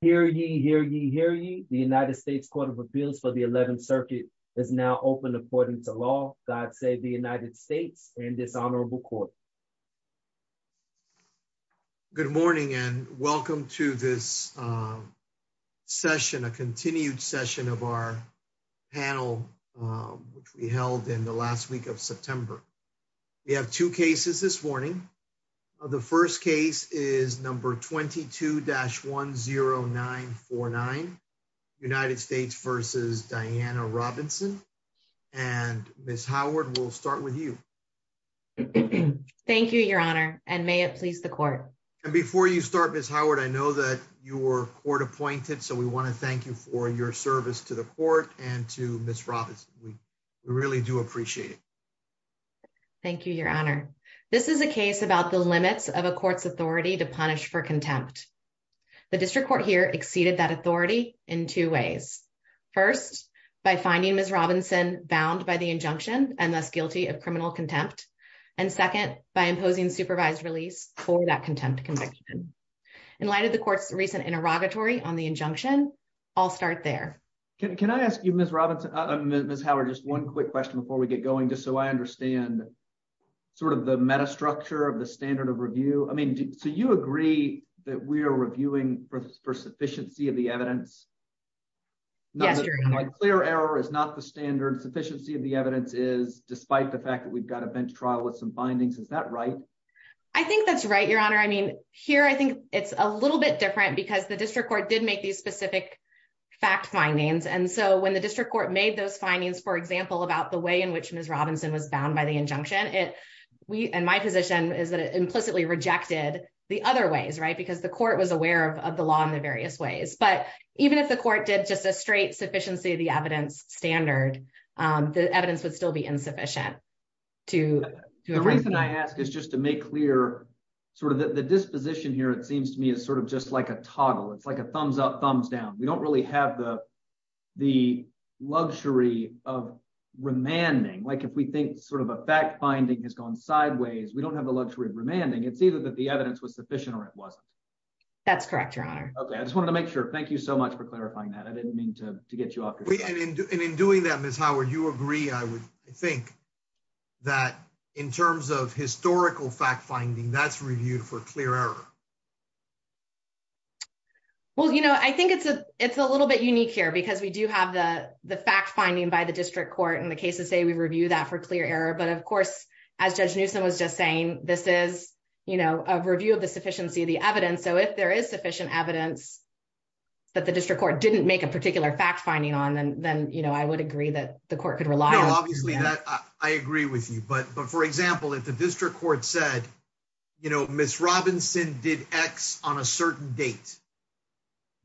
Hear ye, hear ye, hear ye. The United States Court of Appeals for the 11th Circuit is now open according to law. God save the United States and this honorable court. Good morning and welcome to this session, a continued session of our panel which we held in the last week of September. We have two cases this morning. The first case is number 22-10949, United States v. Diana Robinson. And Ms. Howard, we'll start with you. Thank you, your honor, and may it please the court. And before you start, Ms. Howard, I know that you were court appointed, so we want to thank you for your service to the court and to Ms. Robinson. We really do appreciate it. Thank you, your honor. This is a case about the limits of a court's authority to punish for contempt. The district court here exceeded that authority in two ways. First, by finding Ms. Robinson bound by the injunction and thus guilty of criminal contempt. And second, by imposing supervised release for that contempt conviction. In light of the court's recent interrogatory on the injunction, I'll start there. Can I ask you, Ms. Robinson, Ms. Howard, just one quick question before we get going, just so I understand sort of the metastructure of the standard of review. I mean, so you agree that we are reviewing for sufficiency of the evidence? Yes, your honor. A clear error is not the standard. Sufficiency of the evidence is despite the fact that we've got a bench trial with some findings. Is that right? I think that's right, your honor. I mean, here, I think it's a little bit different because the fact findings. And so when the district court made those findings, for example, about the way in which Ms. Robinson was bound by the injunction, and my position is that it implicitly rejected the other ways, right? Because the court was aware of the law in the various ways. But even if the court did just a straight sufficiency of the evidence standard, the evidence would still be insufficient. The reason I ask is just to make clear sort of the disposition here, seems to me, is sort of just like a toggle. It's like a thumbs up, thumbs down. We don't really have the luxury of remanding. Like if we think sort of a fact finding has gone sideways, we don't have the luxury of remanding. It's either that the evidence was sufficient or it wasn't. That's correct, your honor. Okay. I just wanted to make sure. Thank you so much for clarifying that. I didn't mean to get you off. And in doing that, Ms. Howard, you agree, I would think that in terms of historical fact finding, that's reviewed for clear error. Well, I think it's a little bit unique here because we do have the fact finding by the district court. And the cases say we review that for clear error. But of course, as Judge Newsom was just saying, this is a review of the sufficiency of the evidence. So if there is sufficient evidence that the district court didn't make a particular fact finding on, then I would agree that the court could rely on it. I agree with you. But for example, if the district court said, Ms. Robinson did X on a certain date,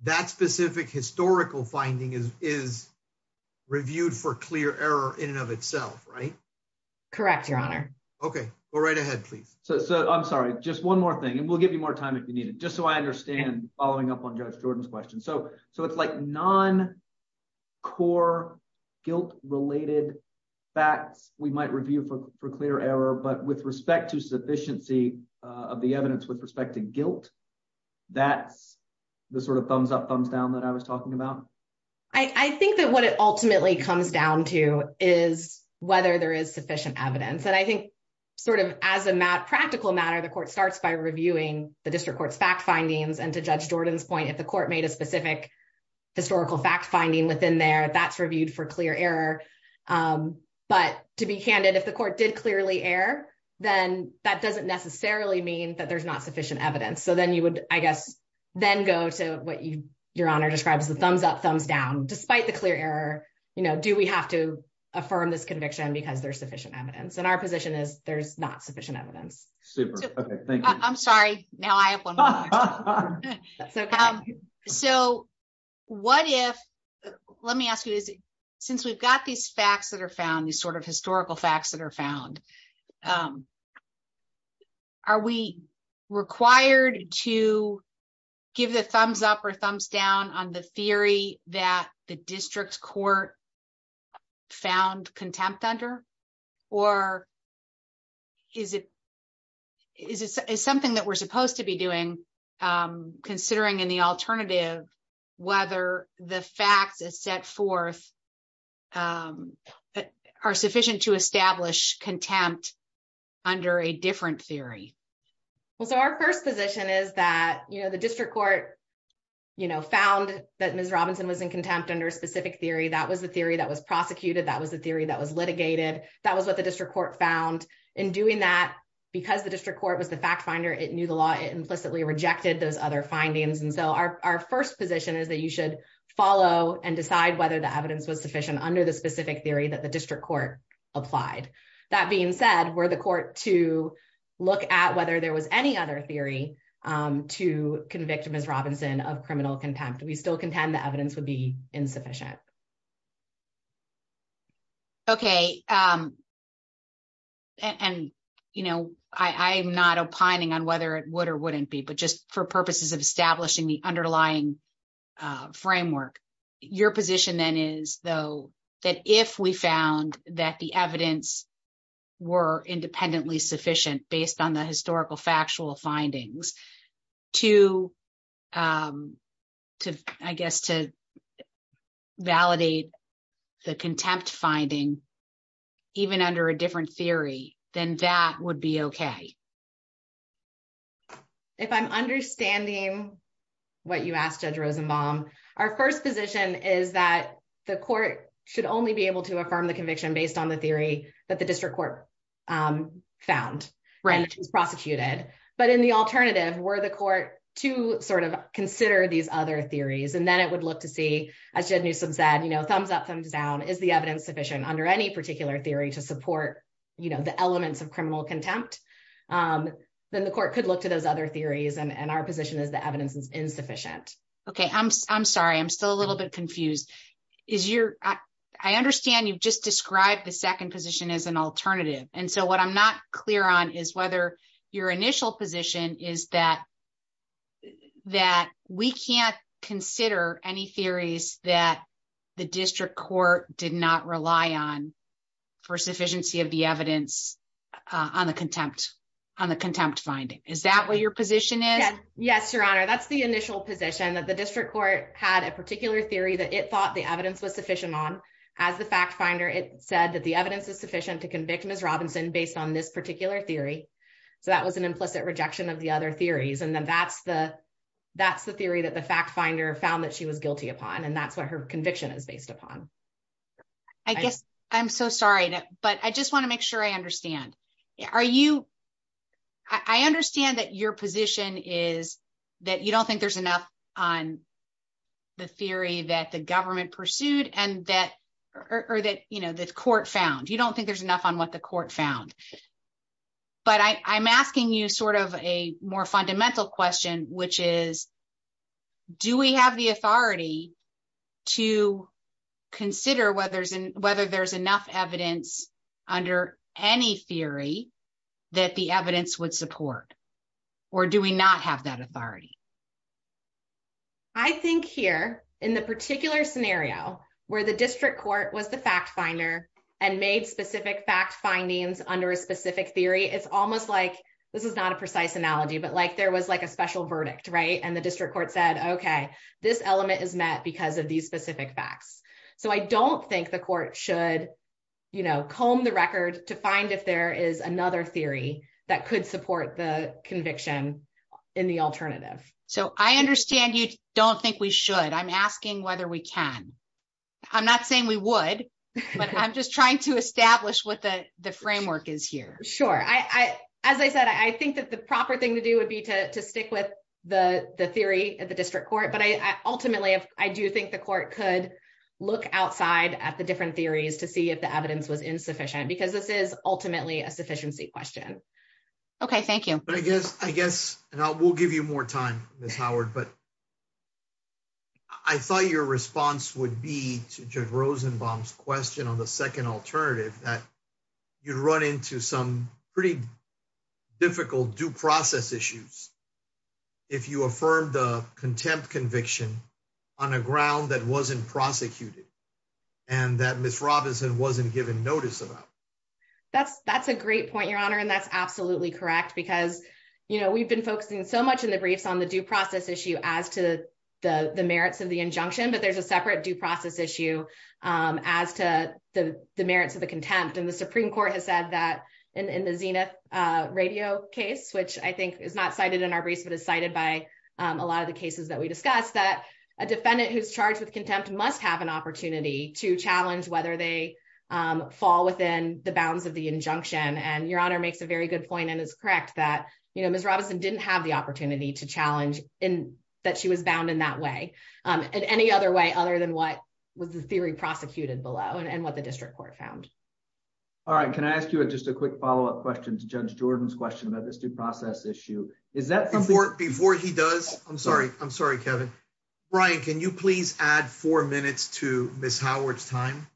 that specific historical finding is reviewed for clear error in and of itself, right? Correct, your honor. Okay. Go right ahead, please. I'm sorry. Just one more thing. And we'll give you more time if you need it. Just so I understand following up on Judge Jordan's question. So it's like non-core guilt-related facts we might review for clear error, but with respect to sufficiency of the evidence with respect to guilt, that's the sort of thumbs up, thumbs down that I was talking about. I think that what it ultimately comes down to is whether there is sufficient evidence. And I think as a practical matter, the court starts by reviewing the district court's fact findings and to Judge Jordan's point, if the court made a specific historical fact finding within there, that's reviewed for clear error. But to be candid, if the court did clearly error, then that doesn't necessarily mean that there's not sufficient evidence. So then you would, I guess, then go to what your honor describes the thumbs up, thumbs down, despite the clear error, do we have to affirm this conviction because there's sufficient evidence? And our position is there's not sufficient evidence. Super. Okay. Thank you. I'm sorry. Now I have one more question. Okay. So what if, let me ask you, since we've got these facts that are found, these sort of historical facts that are found, are we required to give the thumbs up or thumbs down on the theory that the district court found contempt under? Or is it something that we're considering in the alternative, whether the facts is set forth, are sufficient to establish contempt under a different theory? Well, so our first position is that, you know, the district court, you know, found that Ms. Robinson was in contempt under a specific theory. That was the theory that was prosecuted. That was the theory that was litigated. That was what the district court found in doing that because the district court was the fact finder. It knew the law, implicitly rejected those other findings. And so our first position is that you should follow and decide whether the evidence was sufficient under the specific theory that the district court applied. That being said, where the court to look at whether there was any other theory to convict Ms. Robinson of criminal contempt, we still contend the evidence would be insufficient. Okay. And, you know, I'm not opining on whether it would or wouldn't be, but just for purposes of establishing the underlying framework, your position then is, though, that if we found that the evidence were independently sufficient based on the validate the contempt finding, even under a different theory, then that would be okay. If I'm understanding what you asked Judge Rosenbaum, our first position is that the court should only be able to affirm the conviction based on the theory that the district court found, which was prosecuted. But in the alternative, were the court to sort of consider these other theories, and then it would look to see, as Jed Newsom said, thumbs up, thumbs down, is the evidence sufficient under any particular theory to support the elements of criminal contempt? Then the court could look to those other theories and our position is the evidence is insufficient. Okay. I'm sorry. I'm still a little bit confused. I understand you've just described the second position as an alternative. And so what I'm not clear on is whether your can't consider any theories that the district court did not rely on for sufficiency of the evidence on the contempt finding. Is that what your position is? Yes, Your Honor. That's the initial position that the district court had a particular theory that it thought the evidence was sufficient on. As the fact finder, it said that the evidence is sufficient to convict Ms. Robinson based on this particular theory. So that was an implicit rejection of the other theories. And then that's the theory that the fact finder found that she was guilty upon. And that's what her conviction is based upon. I guess, I'm so sorry, but I just want to make sure I understand. Are you, I understand that your position is that you don't think there's enough on the theory that the government pursued and that, or that, you know, the court found. You don't think there's a more fundamental question, which is, do we have the authority to consider whether there's enough evidence under any theory that the evidence would support? Or do we not have that authority? I think here, in the particular scenario where the district court was the fact finder and made fact findings under a specific theory, it's almost like, this is not a precise analogy, but like there was like a special verdict, right? And the district court said, okay, this element is met because of these specific facts. So I don't think the court should, you know, comb the record to find if there is another theory that could support the conviction in the alternative. So I understand you don't think we should, I'm asking whether we can. I'm not saying we would, but I'm just trying to establish what the framework is here. Sure. As I said, I think that the proper thing to do would be to stick with the theory of the district court. But I ultimately, I do think the court could look outside at the different theories to see if the evidence was insufficient, because this is ultimately a sufficiency question. Okay. Thank you. But I guess, and I will give you more time, Ms. Howard, but I thought your response would be to Judge Rosenbaum's question on the second alternative, that you'd run into some pretty difficult due process issues. If you affirm the contempt conviction on a ground that wasn't prosecuted, and that Ms. Robinson wasn't given notice about. That's a great point, Your Honor. And that's absolutely correct. Because, you know, we've been focusing so much in the briefs on the due process issue as to the merits of the injunction, but there's a separate due process issue as to the merits of the contempt. And the Supreme Court has said that in the Zenith radio case, which I think is not cited in our briefs, but is cited by a lot of the cases that we discussed, that a defendant who's charged with contempt must have an opportunity to challenge whether they fall within the bounds of the injunction. And Your Honor makes a very good point and is correct that, you know, Ms. Robinson didn't have the opportunity to challenge that she was bound in that way, and any other way other than what was the theory prosecuted below and what the district court found. All right. Can I ask you just a quick follow-up question to Judge Jordan's question about this due process issue? Before he does, I'm sorry, Kevin. Brian, can you please add four minutes to Howard's time?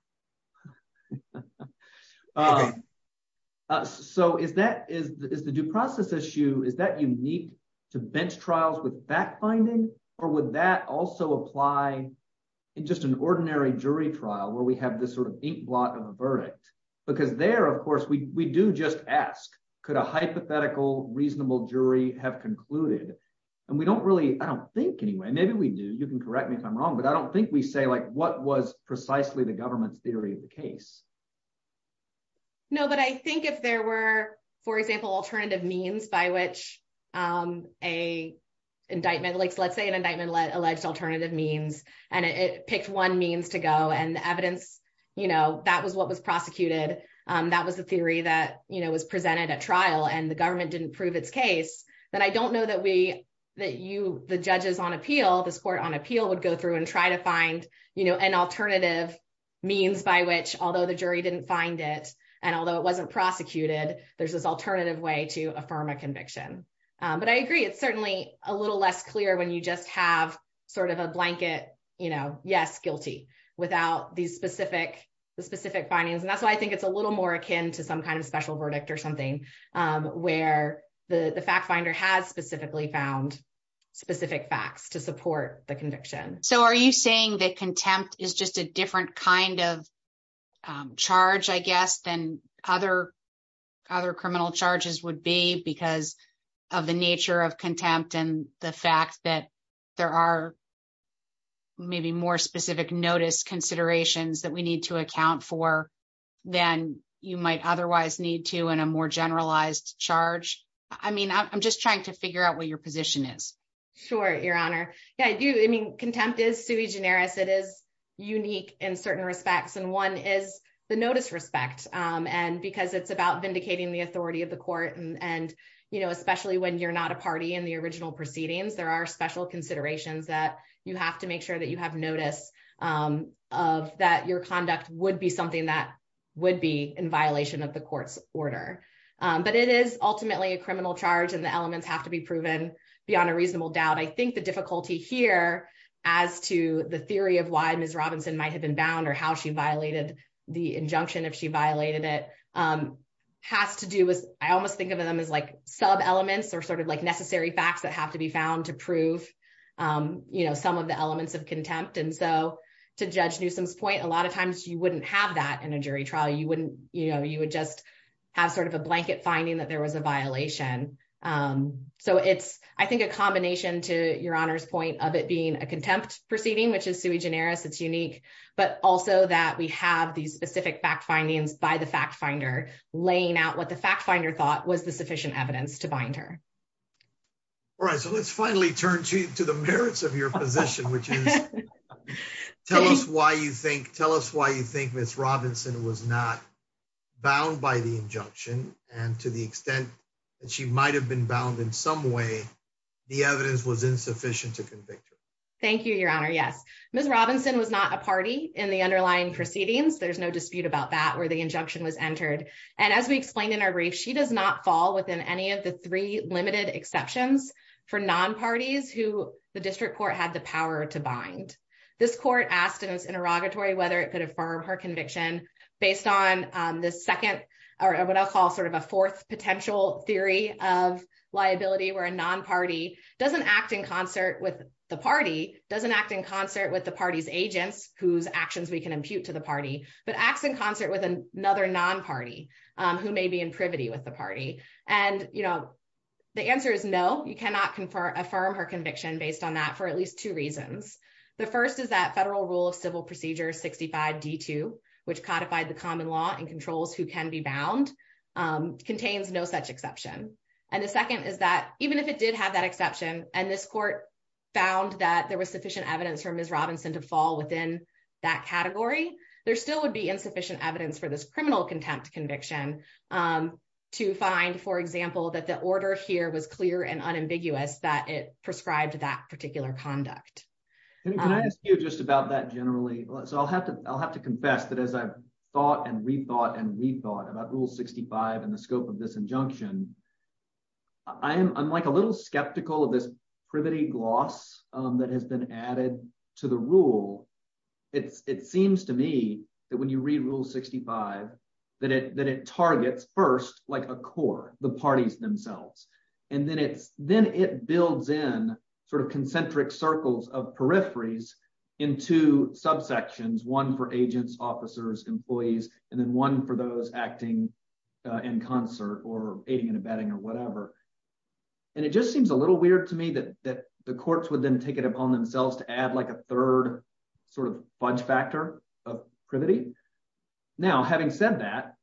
So is the due process issue, is that unique to bench trials with fact-finding, or would that also apply in just an ordinary jury trial where we have this sort of inkblot of a verdict? Because there, of course, we do just ask, could a hypothetical reasonable jury have concluded? And we don't really, I don't think anyway, maybe we do, you can correct me if I'm wrong, but that's precisely the government's theory of the case. No, but I think if there were, for example, alternative means by which a indictment, like let's say an indictment alleged alternative means, and it picked one means to go and the evidence, you know, that was what was prosecuted, that was the theory that, you know, was presented at trial and the government didn't prove its case, then I don't know that we, that you, the judges on appeal, this court on appeal would go through and try to find, you know, an alternative means by which, although the jury didn't find it, and although it wasn't prosecuted, there's this alternative way to affirm a conviction. But I agree, it's certainly a little less clear when you just have sort of a blanket, you know, yes, guilty without these specific, the specific findings. And that's why I think it's a little more akin to some kind of special verdict or where the fact finder has specifically found specific facts to support the conviction. So are you saying that contempt is just a different kind of charge, I guess, than other other criminal charges would be because of the nature of contempt and the fact that there are maybe more specific notice considerations that we need to account for than you might otherwise need to in a more generalized charge? I mean, I'm just trying to figure out what your position is. Sure, Your Honor. Yeah, I do. I mean, contempt is sui generis. It is unique in certain respects. And one is the notice respect. And because it's about vindicating the authority of the court. And, you know, especially when you're not a party in the original proceedings, there are special considerations that you have to make sure that you have notice of that your of the court's order. But it is ultimately a criminal charge and the elements have to be proven beyond a reasonable doubt. I think the difficulty here as to the theory of why Ms. Robinson might have been bound or how she violated the injunction if she violated it has to do with I almost think of them as like sub elements or sort of like necessary facts that have to be found to prove, you know, some of the elements of contempt. And so to Judge Newsom's point, a lot of times you wouldn't have that in a jury trial, you wouldn't, you know, you would just have sort of a blanket finding that there was a violation. So it's, I think, a combination to Your Honor's point of it being a contempt proceeding, which is sui generis, it's unique, but also that we have these specific fact findings by the fact finder, laying out what the fact finder thought was the sufficient evidence to bind her. All right, so let's finally turn to the merits of your position, which is tell us why you think tell us why you think Ms. Robinson was not bound by the injunction, and to the extent that she might have been bound in some way, the evidence was insufficient to convict her. Thank you, Your Honor. Yes, Ms. Robinson was not a party in the underlying proceedings. There's no dispute about that where the injunction was entered. And as we explained in our brief, she does not fall within any of the three limited exceptions for non parties who the district court had the power to bind. This court asked in its interrogatory, whether it could affirm her conviction, based on the second, or what I'll call sort of a fourth potential theory of liability, where a non party doesn't act in concert with the party doesn't act in concert with the party's agents whose actions we can impute to the party, but acts in concert with another non party, who may be in privity with the party. And, you know, the answer is no, you cannot confer affirm her conviction based on that for at least two reasons. The first is that federal rule of civil procedure 65 D two, which codified the common law and controls who can be bound, contains no such exception. And the second is that even if it did have that exception, and this court found that there was sufficient evidence for Ms. Robinson to fall within that category, there still would be insufficient evidence for this criminal contempt conviction to find, for example, that the order here was clear and unambiguous that it prescribed that particular conduct. And can I ask you just about that generally, so I'll have to, I'll have to confess that as I've thought and rethought and rethought about rule 65, and the scope of this injunction, I'm like a little skeptical of this privity gloss that has been added to the rule. It's it seems to me that when you read rule 65, that it that it targets first, like a core, the parties themselves, and then it's then it builds in sort of concentric circles of peripheries into subsections, one for agents, officers, employees, and then one for those acting in concert or aiding and abetting or whatever. And it just seems a little weird to me that that courts would then take it upon themselves to add like a third sort of fudge factor of privity. Now, having said that,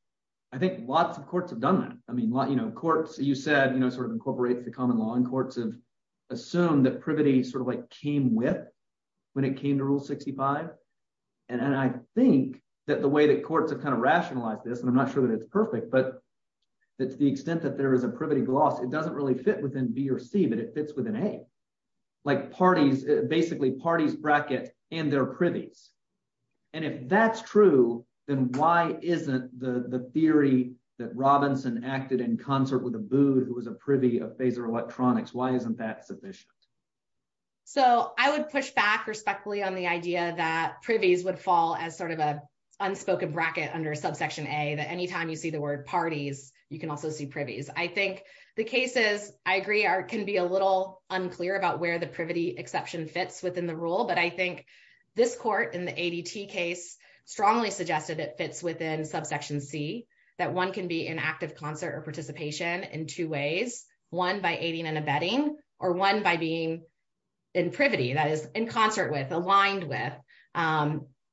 I think lots of courts have done that. I mean, you know, courts, you said, you know, sort of incorporates the common law and courts have assumed that privity sort of like came with when it came to rule 65. And I think that the way that courts have kind of rationalized this, and I'm not sure that it's perfect, but that to the extent that there is a privity gloss, it doesn't really fit within B or C, but it fits within a like parties, basically parties bracket and their privies. And if that's true, then why isn't the theory that Robinson acted in concert with a booed who was a privy of phaser electronics? Why isn't that sufficient? So I would push back respectfully on the idea that privies would fall as sort of a unspoken bracket under subsection a that anytime you see the word parties, you can also see I think the cases I agree are, can be a little unclear about where the privity exception fits within the rule, but I think this court in the ADT case strongly suggested it fits within subsection C that one can be an active concert or participation in two ways, one by aiding and abetting or one by being in privity that is in concert with aligned with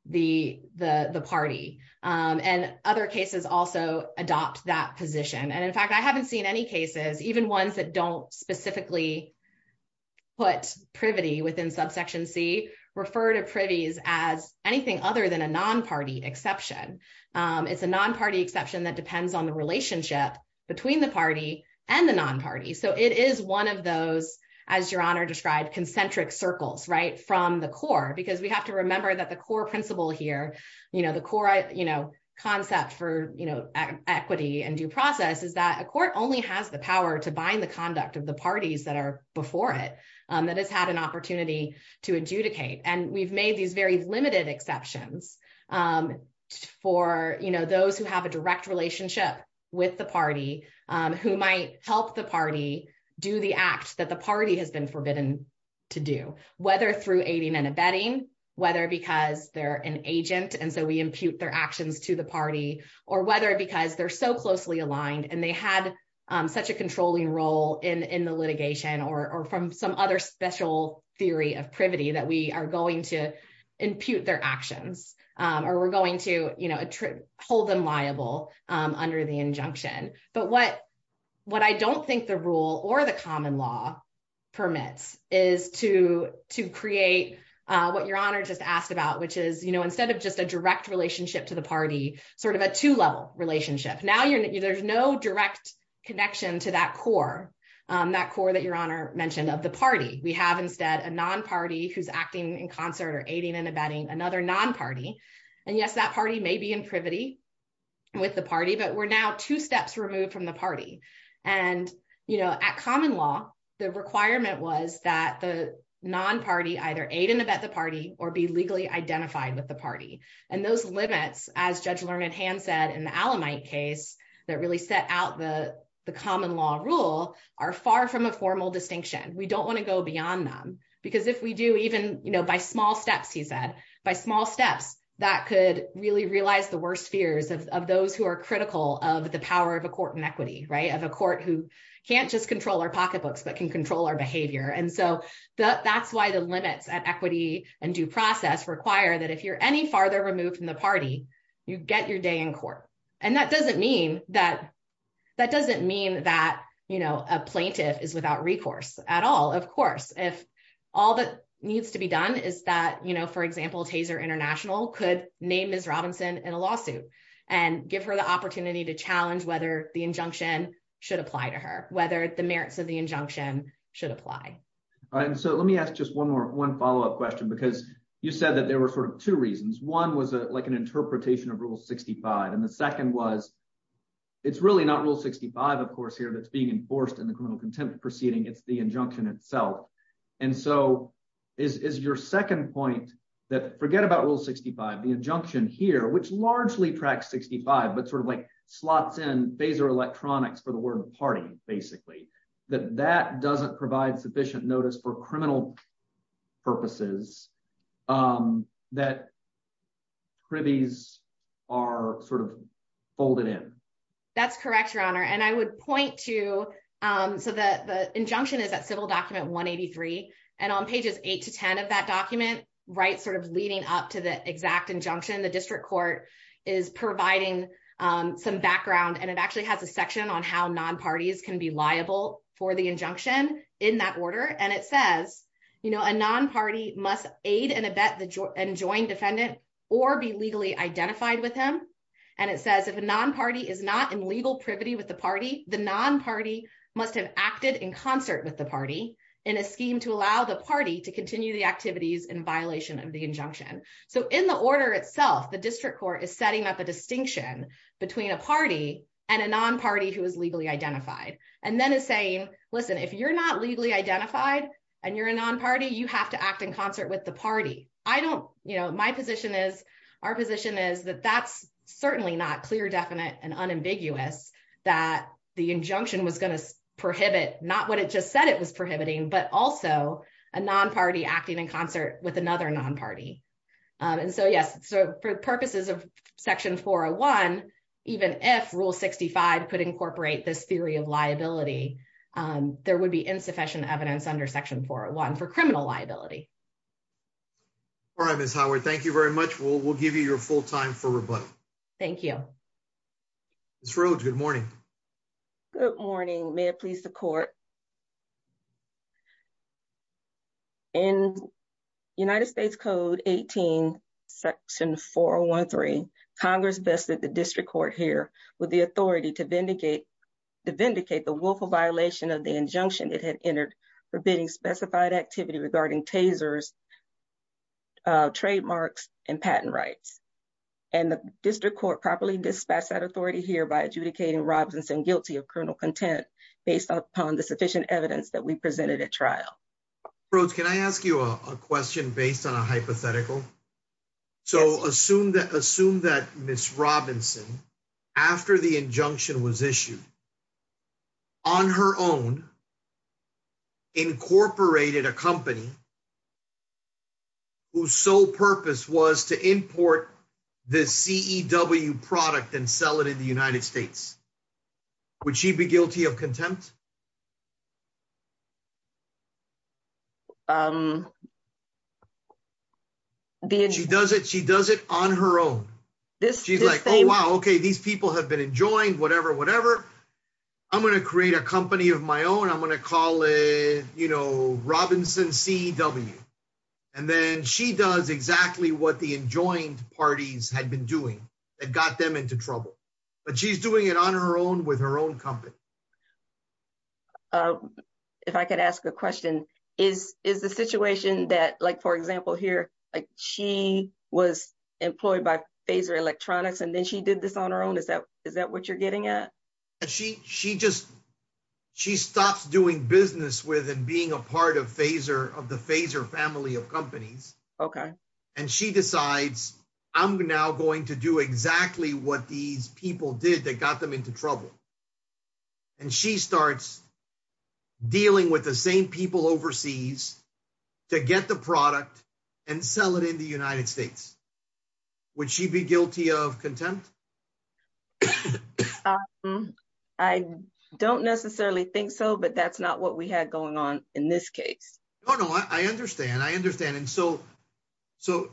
the party. And other cases also adopt that position. And in fact, I haven't seen any cases, even ones that don't specifically put privity within subsection C refer to privies as anything other than a non-party exception. It's a non-party exception that depends on the relationship between the party and the non-party. So it is one of those, as your honor described concentric circles, right from the core, because we have to remember that the core principle here, the core concept for equity and due process is that a court only has the power to bind the conduct of the parties that are before it, that has had an opportunity to adjudicate. And we've made these very limited exceptions for those who have a direct relationship with the party who might help the party do the whether because they're an agent. And so we impute their actions to the party or whether because they're so closely aligned and they had such a controlling role in the litigation or from some other special theory of privity that we are going to impute their actions or we're going to hold them liable under the injunction. But what I don't think the rule or the common law permits is to create what your honor just asked about, which is instead of just a direct relationship to the party, sort of a two-level relationship. Now there's no direct connection to that core, that core that your honor mentioned of the party. We have instead a non-party who's acting in concert or aiding and abetting another non-party. And yes, that party may be in privity with the party, but we're now two steps removed from the party. And at common law, the requirement was that the non-party either aid and abet the party or be legally identified with the party. And those limits as Judge Learned Hand said in the Alamite case that really set out the common law rule are far from a formal distinction. We don't want to go beyond them because if we do even, you know, by small steps, he said, by small steps that could really realize the worst fears of those who are critical of the power of a court inequity, right? Of a court who can't just control our pocketbooks, but can control our behavior. And so that's why the limits at equity and due process require that if you're any farther removed from the party, you get your day in court. And that doesn't mean that, that doesn't mean that, you know, a plaintiff is without recourse at all. Of course, if all that needs to be done is that, you know, for example, Taser International could name Ms. Robinson in a lawsuit and give her the opportunity to challenge whether the injunction should apply to her, whether the merits of the injunction should apply. All right. And so let me ask just one more, one follow-up question, because you said that there were sort of two reasons. One was like an interpretation of Rule 65. And the second was, it's really not Rule 65, of course, here that's being enforced in the criminal contempt proceeding. It's the injunction itself. And so is your second point that forget about Rule 65, the injunction here, which largely tracks 65, but sort of like slots in phaser electronics for the word party, basically, that that doesn't provide sufficient notice for criminal purposes that cribbies are sort of folded in? That's correct, Your Honor. And I would point to, so the injunction is that civil document 183, and on pages eight to 10 of that document, right sort of leading up to the exact injunction, the district court is providing some background, and it actually has a section on how non-parties can be liable for the injunction in that order. And it says, you know, a non-party must aid and abet and join defendant or be legally identified with him. And it says, if a non-party is not in legal privity with the party, the non-party must have acted in concert with the party in a scheme to allow the party to continue the activities in violation of the injunction. So in the order itself, the district court is setting up a distinction between a party and a non-party who is legally identified, and then is saying, listen, if you're not legally identified, and you're a non-party, you have to act in concert with the party. I don't, you know, my position is, our position is that that's certainly not clear, definite and unambiguous, that the injunction was going to prohibit not what it just said it was prohibiting, but also a non-party acting in concert with another non-party. And so yes, so for purposes of Section 401, even if Rule 65 could incorporate this theory of liability, there would be insufficient evidence under Section 401 for criminal liability. All right, Ms. Howard, thank you very much. We'll give you your full time for rebuttal. Ms. Rhodes, good morning. Good morning. May it please the court. In United States Code 18, Section 413, Congress vested the district court here with the authority to vindicate the willful violation of the injunction it had entered forbidding specified activity regarding tasers, trademarks, and patent rights. And the district court properly dispatched that authority here by adjudicating Robinson guilty of criminal content based upon the sufficient evidence that we presented at trial. Rhodes, can I ask you a question based on a hypothetical? So assume that Ms. Robinson, after the injunction was issued, on her own, incorporated a company whose sole purpose was to import the CEW product and sell it in the United States. Would she be guilty of contempt? She does it on her own. She's like, oh, wow, okay, these people have been enjoying whatever, whatever. I'm going to create a company of my own. I'm going to call it, you know, Robinson CEW. And then she does exactly what the enjoined parties had been doing that got them into trouble. But she's doing it on her own with her own company. If I could ask a question, is the situation that, like, for example, here, like she was employed by Phaser Electronics, and then she did this on her own? Is that what you're getting at? She just, she stops doing business with and being a part of Phaser, of the Phaser family of companies. Okay. And she decides, I'm now going to do exactly what these people did that got them into trouble. And she starts dealing with the same people overseas to get the product and sell it in the United States. Would she be guilty of contempt? Um, I don't necessarily think so. But that's not what we had going on in this case. Oh, no, I understand. I understand. And so, so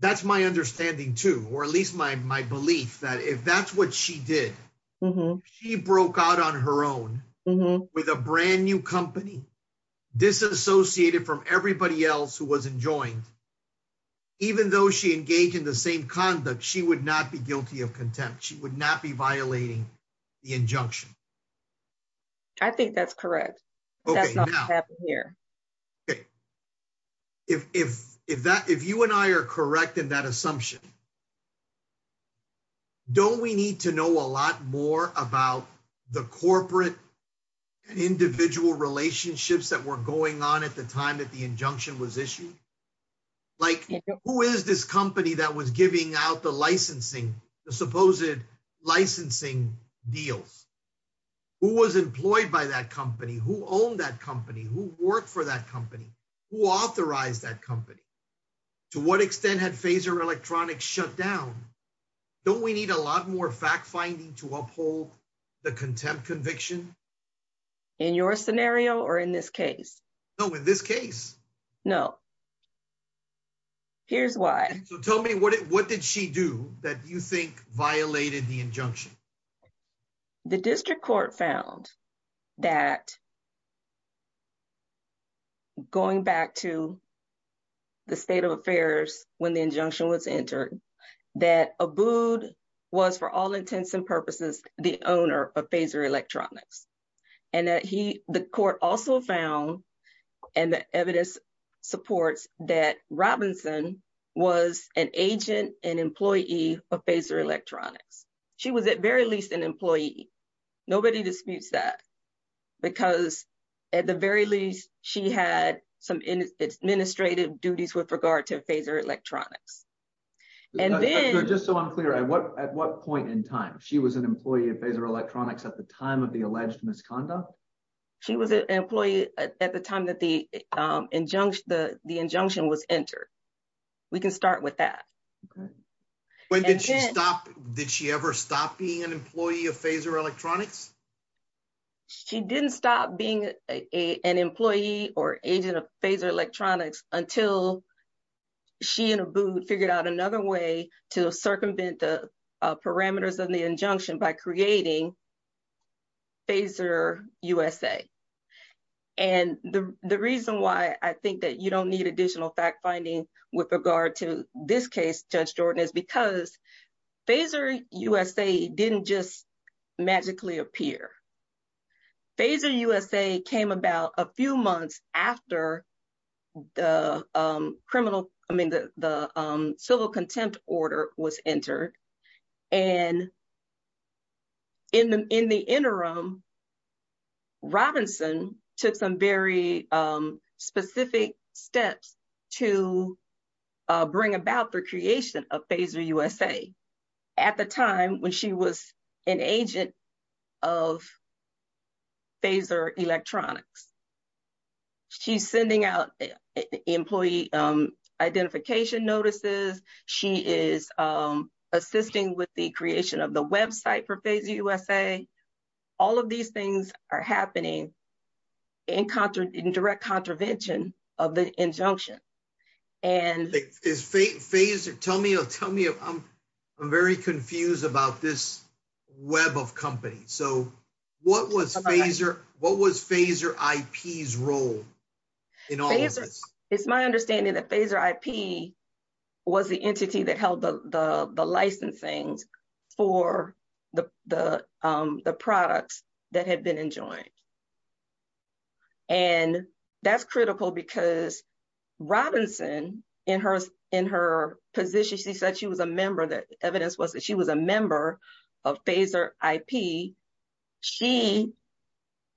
that's my understanding, too, or at least my belief that if that's what she did, she broke out on her own with a brand new company, disassociated from everybody else who was enjoined. Even though she engaged in the same conduct, she would not be violating the injunction. I think that's correct. Okay. Okay. If, if, if that, if you and I are correct in that assumption, don't we need to know a lot more about the corporate and individual relationships that were going on at the time that the injunction was issued? Like, who is this company that was giving out the licensing, the supposed licensing deals? Who was employed by that company? Who owned that company? Who worked for that company? Who authorized that company? To what extent had Phaser Electronics shut down? Don't we need a lot more fact finding to uphold the contempt conviction? In your scenario or in this case? No, in this case? No. Here's why. So tell me what, what did she do that you think violated the injunction? The district court found that going back to the state of affairs when the injunction was entered, that Abood was for all intents and purposes, the owner of Phaser Electronics. And that he, the court also found and the evidence supports that Robinson was an agent and employee of Phaser Electronics. She was at very least an employee. Nobody disputes that because at the very least, she had some administrative duties with regard to Phaser Electronics. And then. Just so I'm clear, at what point in time? She was an employee of Phaser Electronics at the time of the alleged misconduct? She was an employee at the time that the injunction, the injunction was entered. We can start with that. Okay. When did she stop? Did she ever stop being an employee of Phaser Electronics? She didn't stop being an employee or agent of Phaser Electronics until she and Abood figured out another way to circumvent the parameters of the injunction by creating Phaser USA. And the reason why I think that you don't need additional fact finding with regard to this case, Judge Jordan, is because Phaser USA didn't just magically appear. Phaser USA came about a few months after the criminal, I mean, the civil contempt order was entered. And in the interim, Robinson took some very specific steps to bring about the creation of Phaser USA. At the time when she was an agent of Phaser Electronics. She's sending out employee identification notices. She is assisting with the creation of the website for Phaser USA. All of these things are happening in direct contravention of the injunction. Tell me, I'm very confused about this web of companies. So what was Phaser IP's role in all of this? It's my understanding that Phaser IP was the entity that held the licensing for the products that had been enjoined. And that's critical because Robinson in her position, she said she was a member, the evidence was that she was a member of Phaser IP. She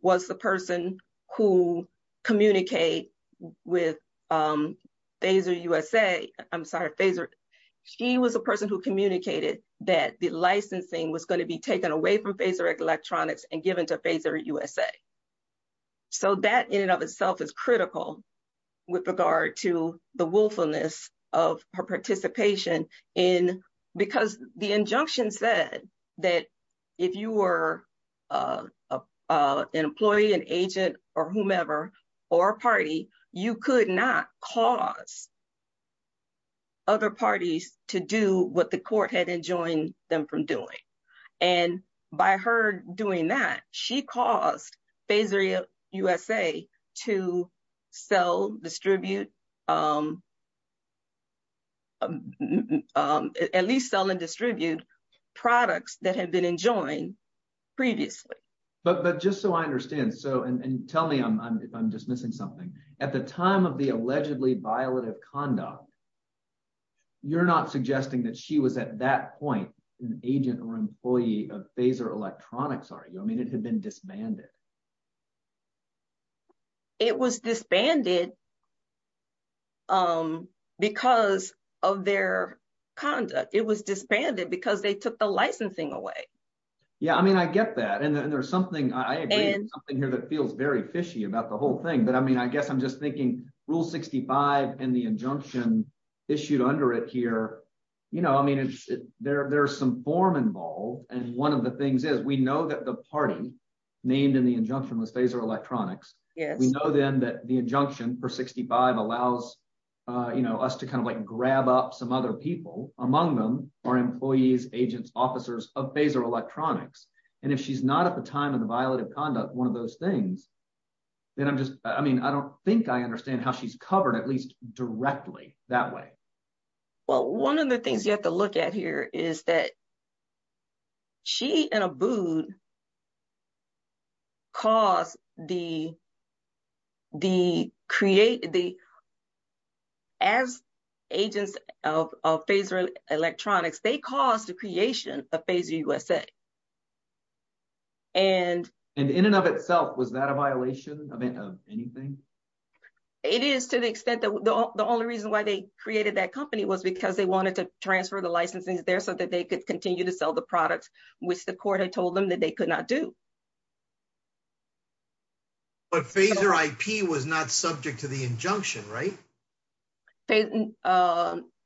was the person who communicate with Phaser USA. I'm sorry, Phaser. She was the person who communicated that the licensing was going to be taken away from Phaser Electronics and given to Phaser USA. So that in and of itself is critical with regard to the willfulness of her participation in, because the injunction said that if you were an employee, an agent, or whomever, or a party, you could not cause other parties to do what the court had enjoined them from doing. And by her doing that, she caused Phaser USA to sell, distribute, at least sell and distribute products that had been enjoined previously. But just so I understand, and tell me if I'm dismissing something, at the time of the allegedly violative conduct, you're not suggesting that she was at that point an agent or employee of Phaser Electronics, are you? I mean, it had been disbanded. It was disbanded because of their conduct. It was disbanded because they took the licensing away. Yeah, I mean, I get that. And there's something, I agree, something here that feels very fishy about the whole thing. But I mean, I guess I'm just thinking Rule 65 and the injunction issued under it here. You know, I mean, there's some form involved. And one of the things is we know that the party named in the injunction was Phaser Electronics. We know then that the injunction for 65 allows, you know, us to kind of like grab up some other people, among them are employees, agents, officers of Phaser Electronics. And if she's not at the time of the violative conduct, one of those things, then I'm just, I mean, I don't think I understand how she's covered at least directly that way. Well, one of the things you have to look at here is that she and Abood caused the, as agents of Phaser Electronics, they caused the creation of Phaser USA. And in and of itself, was that a violation of anything? It is to the extent that the only reason why they created that company was because they wanted to transfer the licenses there so that they could continue to sell the products, which the court had told them that they could not do. But Phaser IP was not subject to the injunction, right?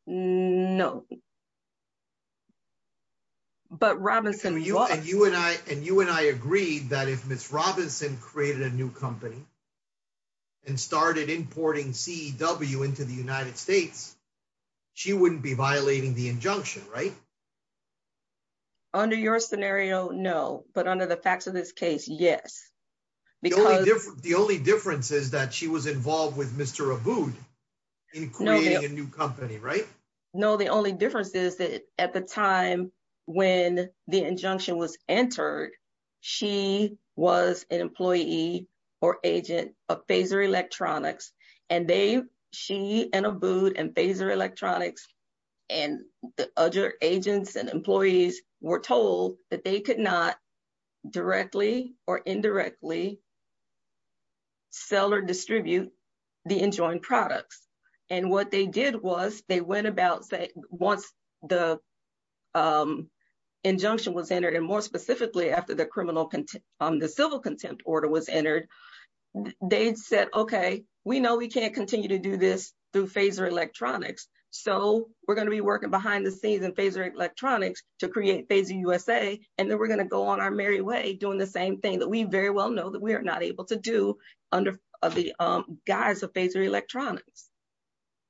No. But Robinson was. And you and I agreed that if Ms. Robinson created a new company, and started importing CEW into the United States, she wouldn't be violating the injunction, right? Under your scenario, no. But under the facts of this case, yes. The only difference is that she was involved with Mr. Abood in creating a new company, right? No, the only difference is that at the time when the injunction was entered, she was an employee or agent of Phaser Electronics. And they, she and Abood and Phaser Electronics and the other agents and employees were told that they could not directly or indirectly sell or distribute the enjoined products. And what they did was they went about, once the civil contempt order was entered, they said, okay, we know we can't continue to do this through Phaser Electronics. So we're going to be working behind the scenes in Phaser Electronics to create Phaser USA. And then we're going to go on our merry way doing the same thing that we very well know that we are not able to do under the guise of Phaser Electronics.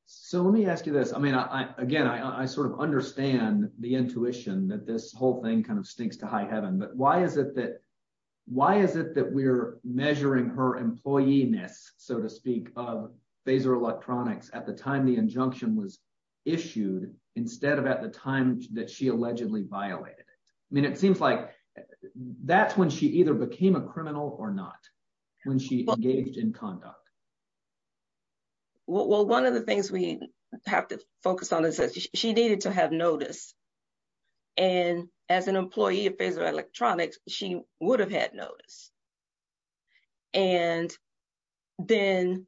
So let me ask you this. I mean, again, I sort of understand the intuition that this whole thing kind of stinks to high heaven, but why is it that we're measuring her employee-ness, so to speak, of Phaser Electronics at the time the injunction was issued instead of at the time that she allegedly violated it? I mean, it seems like that's when she either became a criminal or not, when she engaged in conduct. Well, one of the things we have to focus on is that she needed to have notice. And as an employee of Phaser Electronics, she would have had notice. And then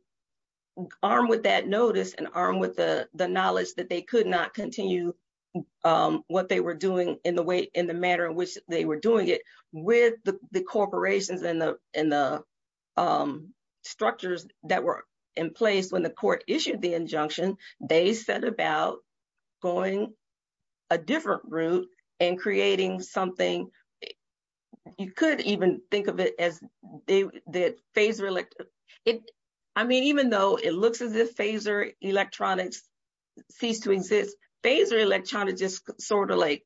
armed with that notice and armed with the knowledge that they could not continue what they were doing in the manner in which they were doing it, with the corporations and the structures that were in place when the court issued the injunction, they set about going a different route and creating something. You could even think of it as that Phaser Electronics, I mean, even though it looks as if Phaser Electronics ceased to exist, Phaser Electronics just sort of like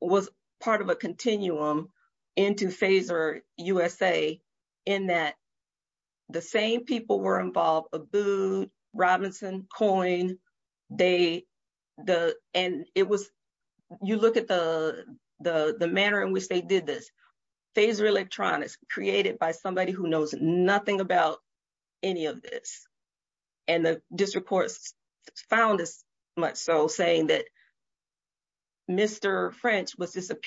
was part of a continuum into Phaser USA in that the same people were involved, Abood, Robinson, Coyne, they, and it was, you look at the manner in which they did this. Phaser Electronics created by somebody who knows nothing about any of this. And the district courts found this much so saying that Mr. French was this that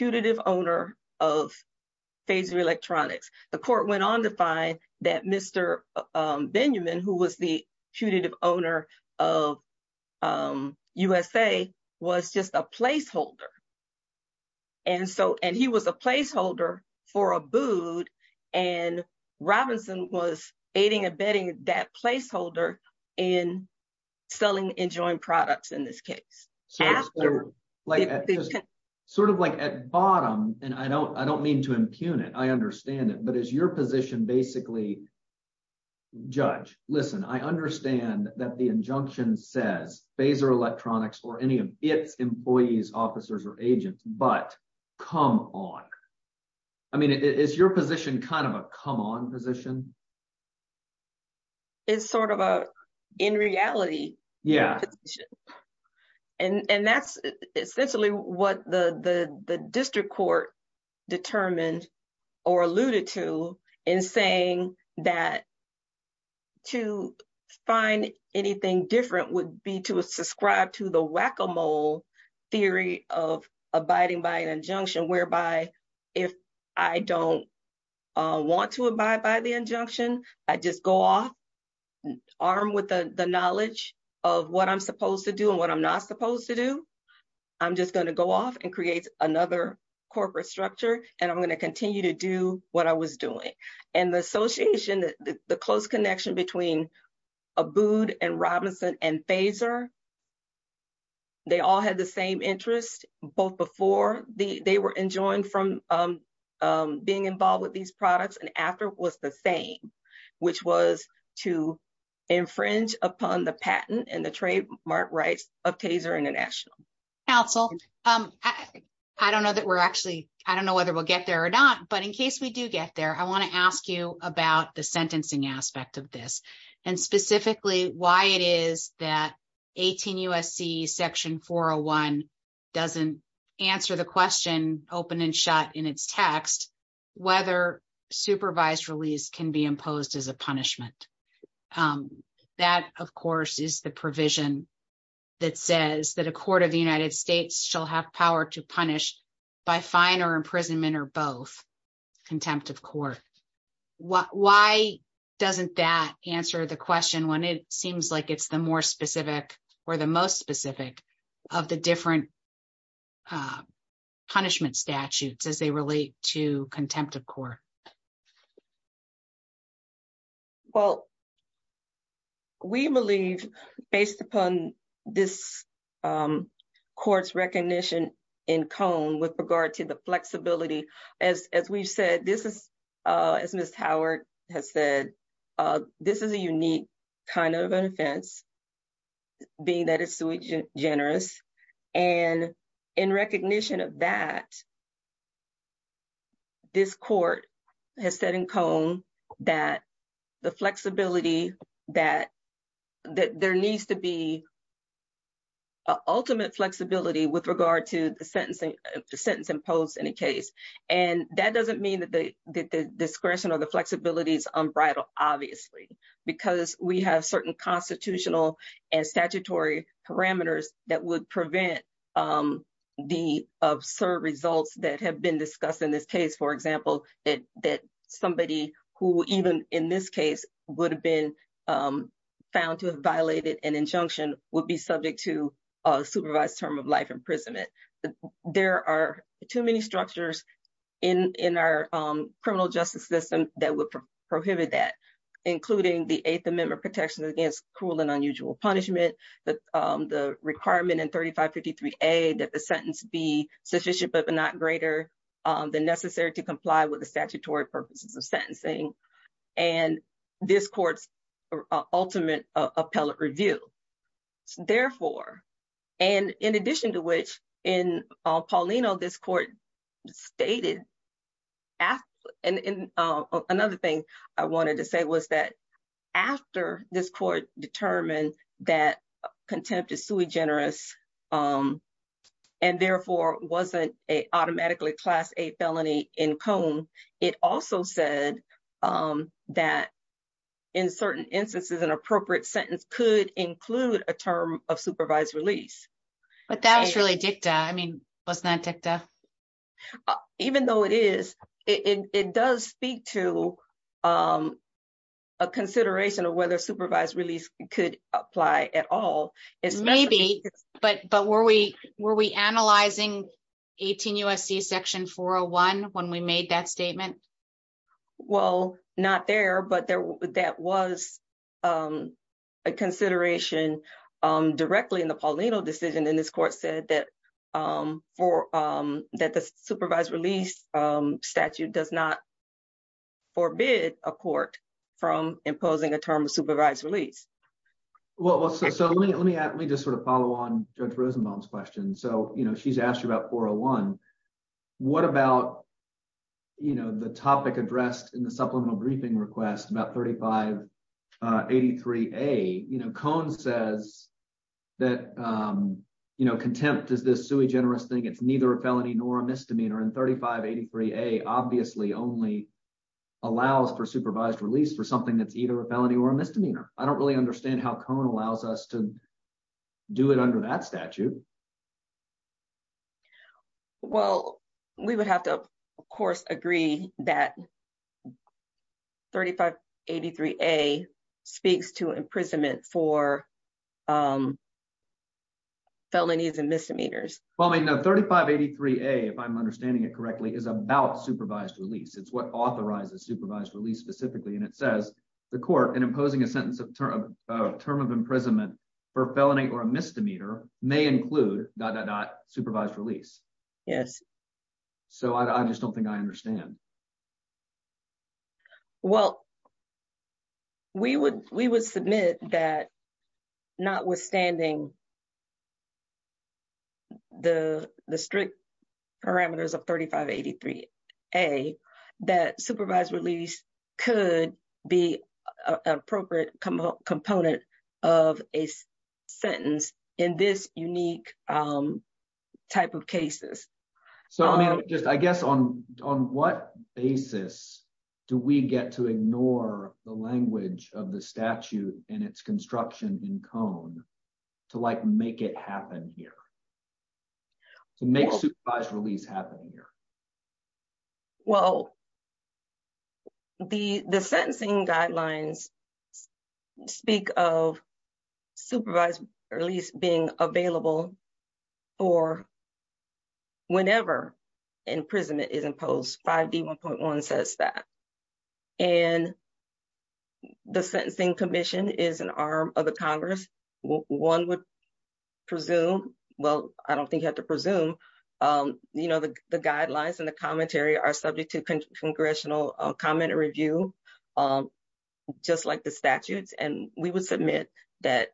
Mr. Benjamin, who was the punitive owner of USA, was just a placeholder. And so, and he was a placeholder for Abood and Robinson was aiding and abetting that placeholder in selling and enjoying products in this case. Sort of like at bottom, and I don't mean to judge. Listen, I understand that the injunction says Phaser Electronics or any of its employees, officers, or agents, but come on. I mean, is your position kind of a come on position? It's sort of a in reality. Yeah. And that's essentially what the district court determined or alluded to in saying that to find anything different would be to subscribe to the whack-a-mole theory of abiding by an injunction whereby if I don't want to abide by the injunction, I just go off armed with the knowledge of what I'm supposed to do and what I'm not supposed to do. I'm just going to go off and create another corporate structure and I'm going to continue to do what I was doing. And the association, the close connection between Abood and Robinson and Phaser, they all had the same interest both before they were enjoined from being involved with these products and after was the same, which was to infringe upon the patent and the trademark rights of Phaser International. Counsel, I don't know that we're actually, I don't know whether we'll get there or not, but in case we do get there, I want to ask you about the sentencing aspect of this and specifically why it is that 18 USC section 401 doesn't answer the question open and shut in its text, whether supervised release can be imposed as a punishment. That, of course, is the provision that says that a court of the United States shall have power to punish by fine or imprisonment or both contempt of court. Why doesn't that answer the question when it seems like it's the more specific or the most specific of the different punishment statutes as they relate to contempt of court? Well, we believe based upon this court's recognition in Cone with regard to the flexibility, as we've said, this is, as Ms. Howard has said, this is a unique kind of an offense being that it's sui generis. And in recognition of that, this court has said in Cone that the flexibility, that there needs to be an ultimate flexibility with regard to the sentence imposed in a case. And that doesn't mean that the discretion or the flexibility is unbridled, obviously, because we have certain constitutional and statutory parameters that would prevent the absurd results that have been discussed in this case. For example, that somebody who even in this case would have been found to have violated an injunction would be subject to a supervised term of life imprisonment. There are too many structures in our criminal justice system that would prohibit that, including the Eighth Amendment protections against cruel and unusual punishment, the requirement in 3553A that the sentence be sufficient but not greater than necessary to comply with the statutory purposes of sentencing, and this court's ultimate appellate review. Therefore, and in addition to which, in Paulino, this court stated, and another thing I wanted to say was that after this court determined that contempt is sui generis and therefore wasn't an automatically class A felony in Cone, it also said that in certain instances an appropriate sentence could include a term of supervised release. But that was really dicta. I mean, wasn't that dicta? Yeah. Even though it is, it does speak to a consideration of whether supervised release could apply at all. Maybe, but were we analyzing 18 U.S.C. section 401 when we made that statement? Well, not there, but that was a consideration directly in the Paulino decision, and this court said that the supervised release statute does not forbid a court from imposing a term of supervised release. Well, so let me just sort of follow on Judge Rosenbaum's question. So, you know, she's asked you about 401. What about, you know, the topic addressed in the sui generis thing? It's neither a felony nor a misdemeanor, and 3583A obviously only allows for supervised release for something that's either a felony or a misdemeanor. I don't really understand how Cone allows us to do it under that statute. Well, we would have to, of course, agree that 3583A speaks to imprisonment for felonies and misdemeanors. Well, I mean, 3583A, if I'm understanding it correctly, is about supervised release. It's what authorizes supervised release specifically, and it says the court in imposing a sentence of term of imprisonment for a felony or a misdemeanor may include dot dot dot supervised release. Yes. So, I just don't think I understand. Well, we would submit that notwithstanding the strict parameters of 3583A, that supervised release could be an appropriate component of a sentence in this unique type of cases. So, I mean, just, I guess, on what basis do we get to ignore the language of the statute and its construction in Cone to, like, make it happen here, to make supervised release happen here? Well, the sentencing guidelines speak of supervised release being available for whenever imprisonment is imposed. 5D1.1 says that. And the sentencing commission is an arm of the Congress. One would presume, well, I don't think you have to presume, you know, the guidelines and the commentary are subject to congressional comment or review, just like the statutes. And we would submit that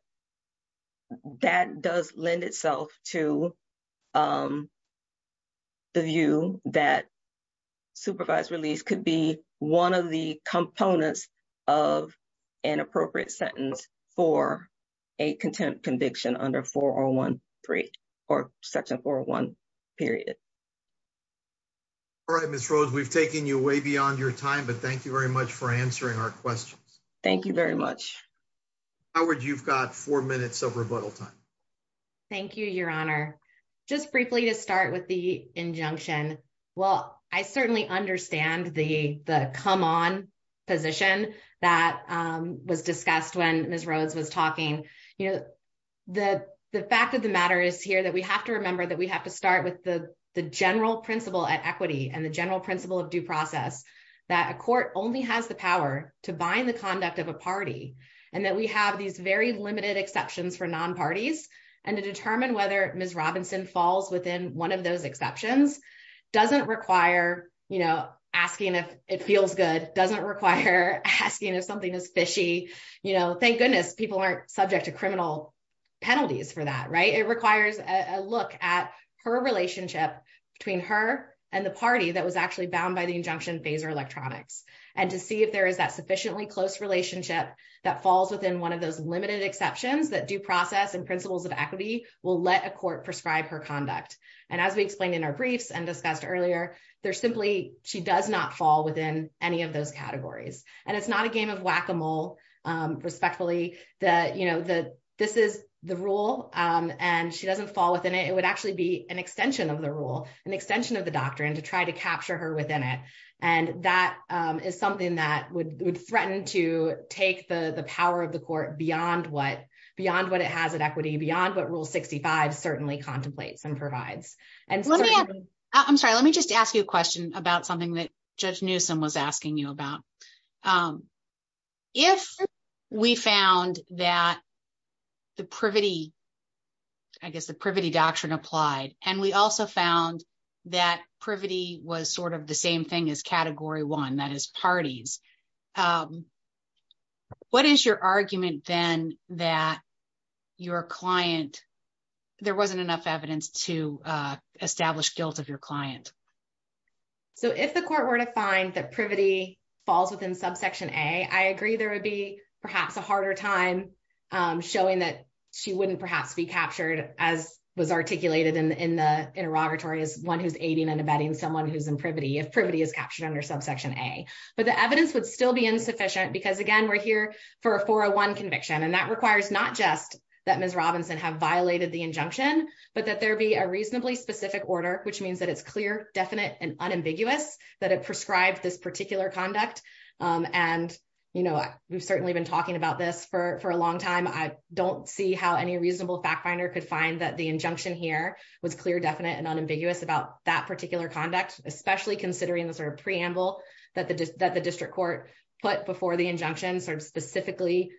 that does lend itself to the view that supervised release could be one of the components of an appropriate sentence for a contempt conviction under 4013 or section 401 period. All right, Ms. Rhodes, we've taken you way beyond your time, but thank you very much for answering our questions. Thank you very much. Howard, you've got four minutes of rebuttal time. Thank you, Your Honor. Just briefly to start with the injunction. Well, I certainly understand the come on position that was discussed when Ms. Rhodes was talking. You know, the fact of the general principle at equity and the general principle of due process that a court only has the power to bind the conduct of a party and that we have these very limited exceptions for nonparties and to determine whether Ms. Robinson falls within one of those exceptions doesn't require, you know, asking if it feels good, doesn't require asking if something is fishy. You know, thank goodness people aren't subject to criminal penalties for that, right? It requires a look at her relationship between her and the party that was actually bound by the injunction phaser electronics and to see if there is that sufficiently close relationship that falls within one of those limited exceptions that due process and principles of equity will let a court prescribe her conduct. And as we explained in our briefs and discussed earlier, there's simply she does not fall within any of those categories. And it's not a game of whack-a-mole respectfully that, this is the rule and she doesn't fall within it. It would actually be an extension of the rule, an extension of the doctrine to try to capture her within it. And that is something that would threaten to take the power of the court beyond what it has at equity, beyond what rule 65 certainly contemplates and provides. I'm sorry, let me just ask you a question about something that Judge Newsom was asking you about. If we found that the privity, I guess the privity doctrine applied and we also found that privity was sort of the same thing as category one, that is parties. What is your argument then that your client, there wasn't enough evidence to find that privity falls within subsection A? I agree there would be perhaps a harder time showing that she wouldn't perhaps be captured as was articulated in the interrogatory as one who's aiding and abetting someone who's in privity if privity is captured under subsection A. But the evidence would still be insufficient because again, we're here for a 401 conviction. And that requires not just that Ms. Robinson have violated the injunction, but that there be a prescribed this particular conduct. And we've certainly been talking about this for a long time. I don't see how any reasonable fact finder could find that the injunction here was clear, definite and unambiguous about that particular conduct, especially considering the sort of preamble that the district court put before the injunction sort of specifically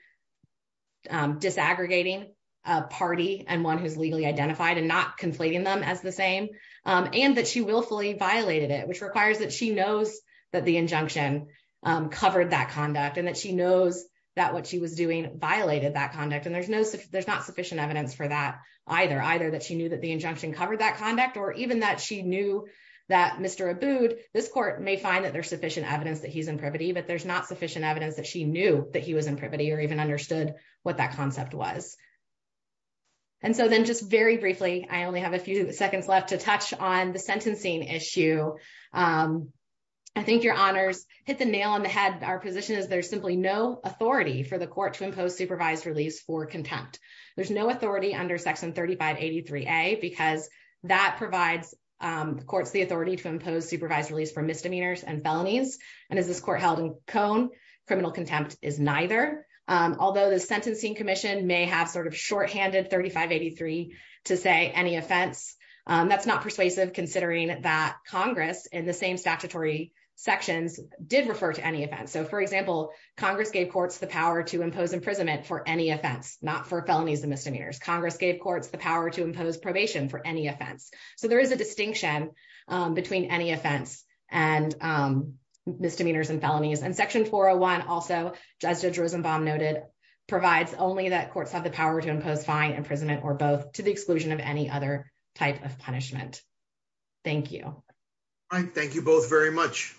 disaggregating a party and one who's legally identified and not conflating them as the same. And that she willfully violated it, which requires that she knows that the injunction covered that conduct and that she knows that what she was doing violated that conduct. And there's not sufficient evidence for that either, either that she knew that the injunction covered that conduct or even that she knew that Mr. Abood, this court may find that there's sufficient evidence that he's in privity, but there's not sufficient evidence that she knew that he was in privity or even understood what that concept was. And so then just very briefly, I only have a few seconds left to touch on the sentencing issue. I think your honors hit the nail on the head. Our position is there's simply no authority for the court to impose supervised release for contempt. There's no authority under section 3583A because that provides courts the authority to impose supervised release for misdemeanors and felonies. And as this court held in Cone, criminal contempt is neither. Although the sentencing commission may have shorthanded 3583 to say any offense, that's not persuasive considering that Congress in the same statutory sections did refer to any offense. So for example, Congress gave courts the power to impose imprisonment for any offense, not for felonies and misdemeanors. Congress gave courts the power to impose probation for any offense. So there is a distinction between any offense and misdemeanors and felonies. And section 401 also, as Judge Rosenbaum noted, provides only that courts have the power to impose fine, imprisonment, or both to the exclusion of any other type of punishment. Thank you. All right. Thank you both very much.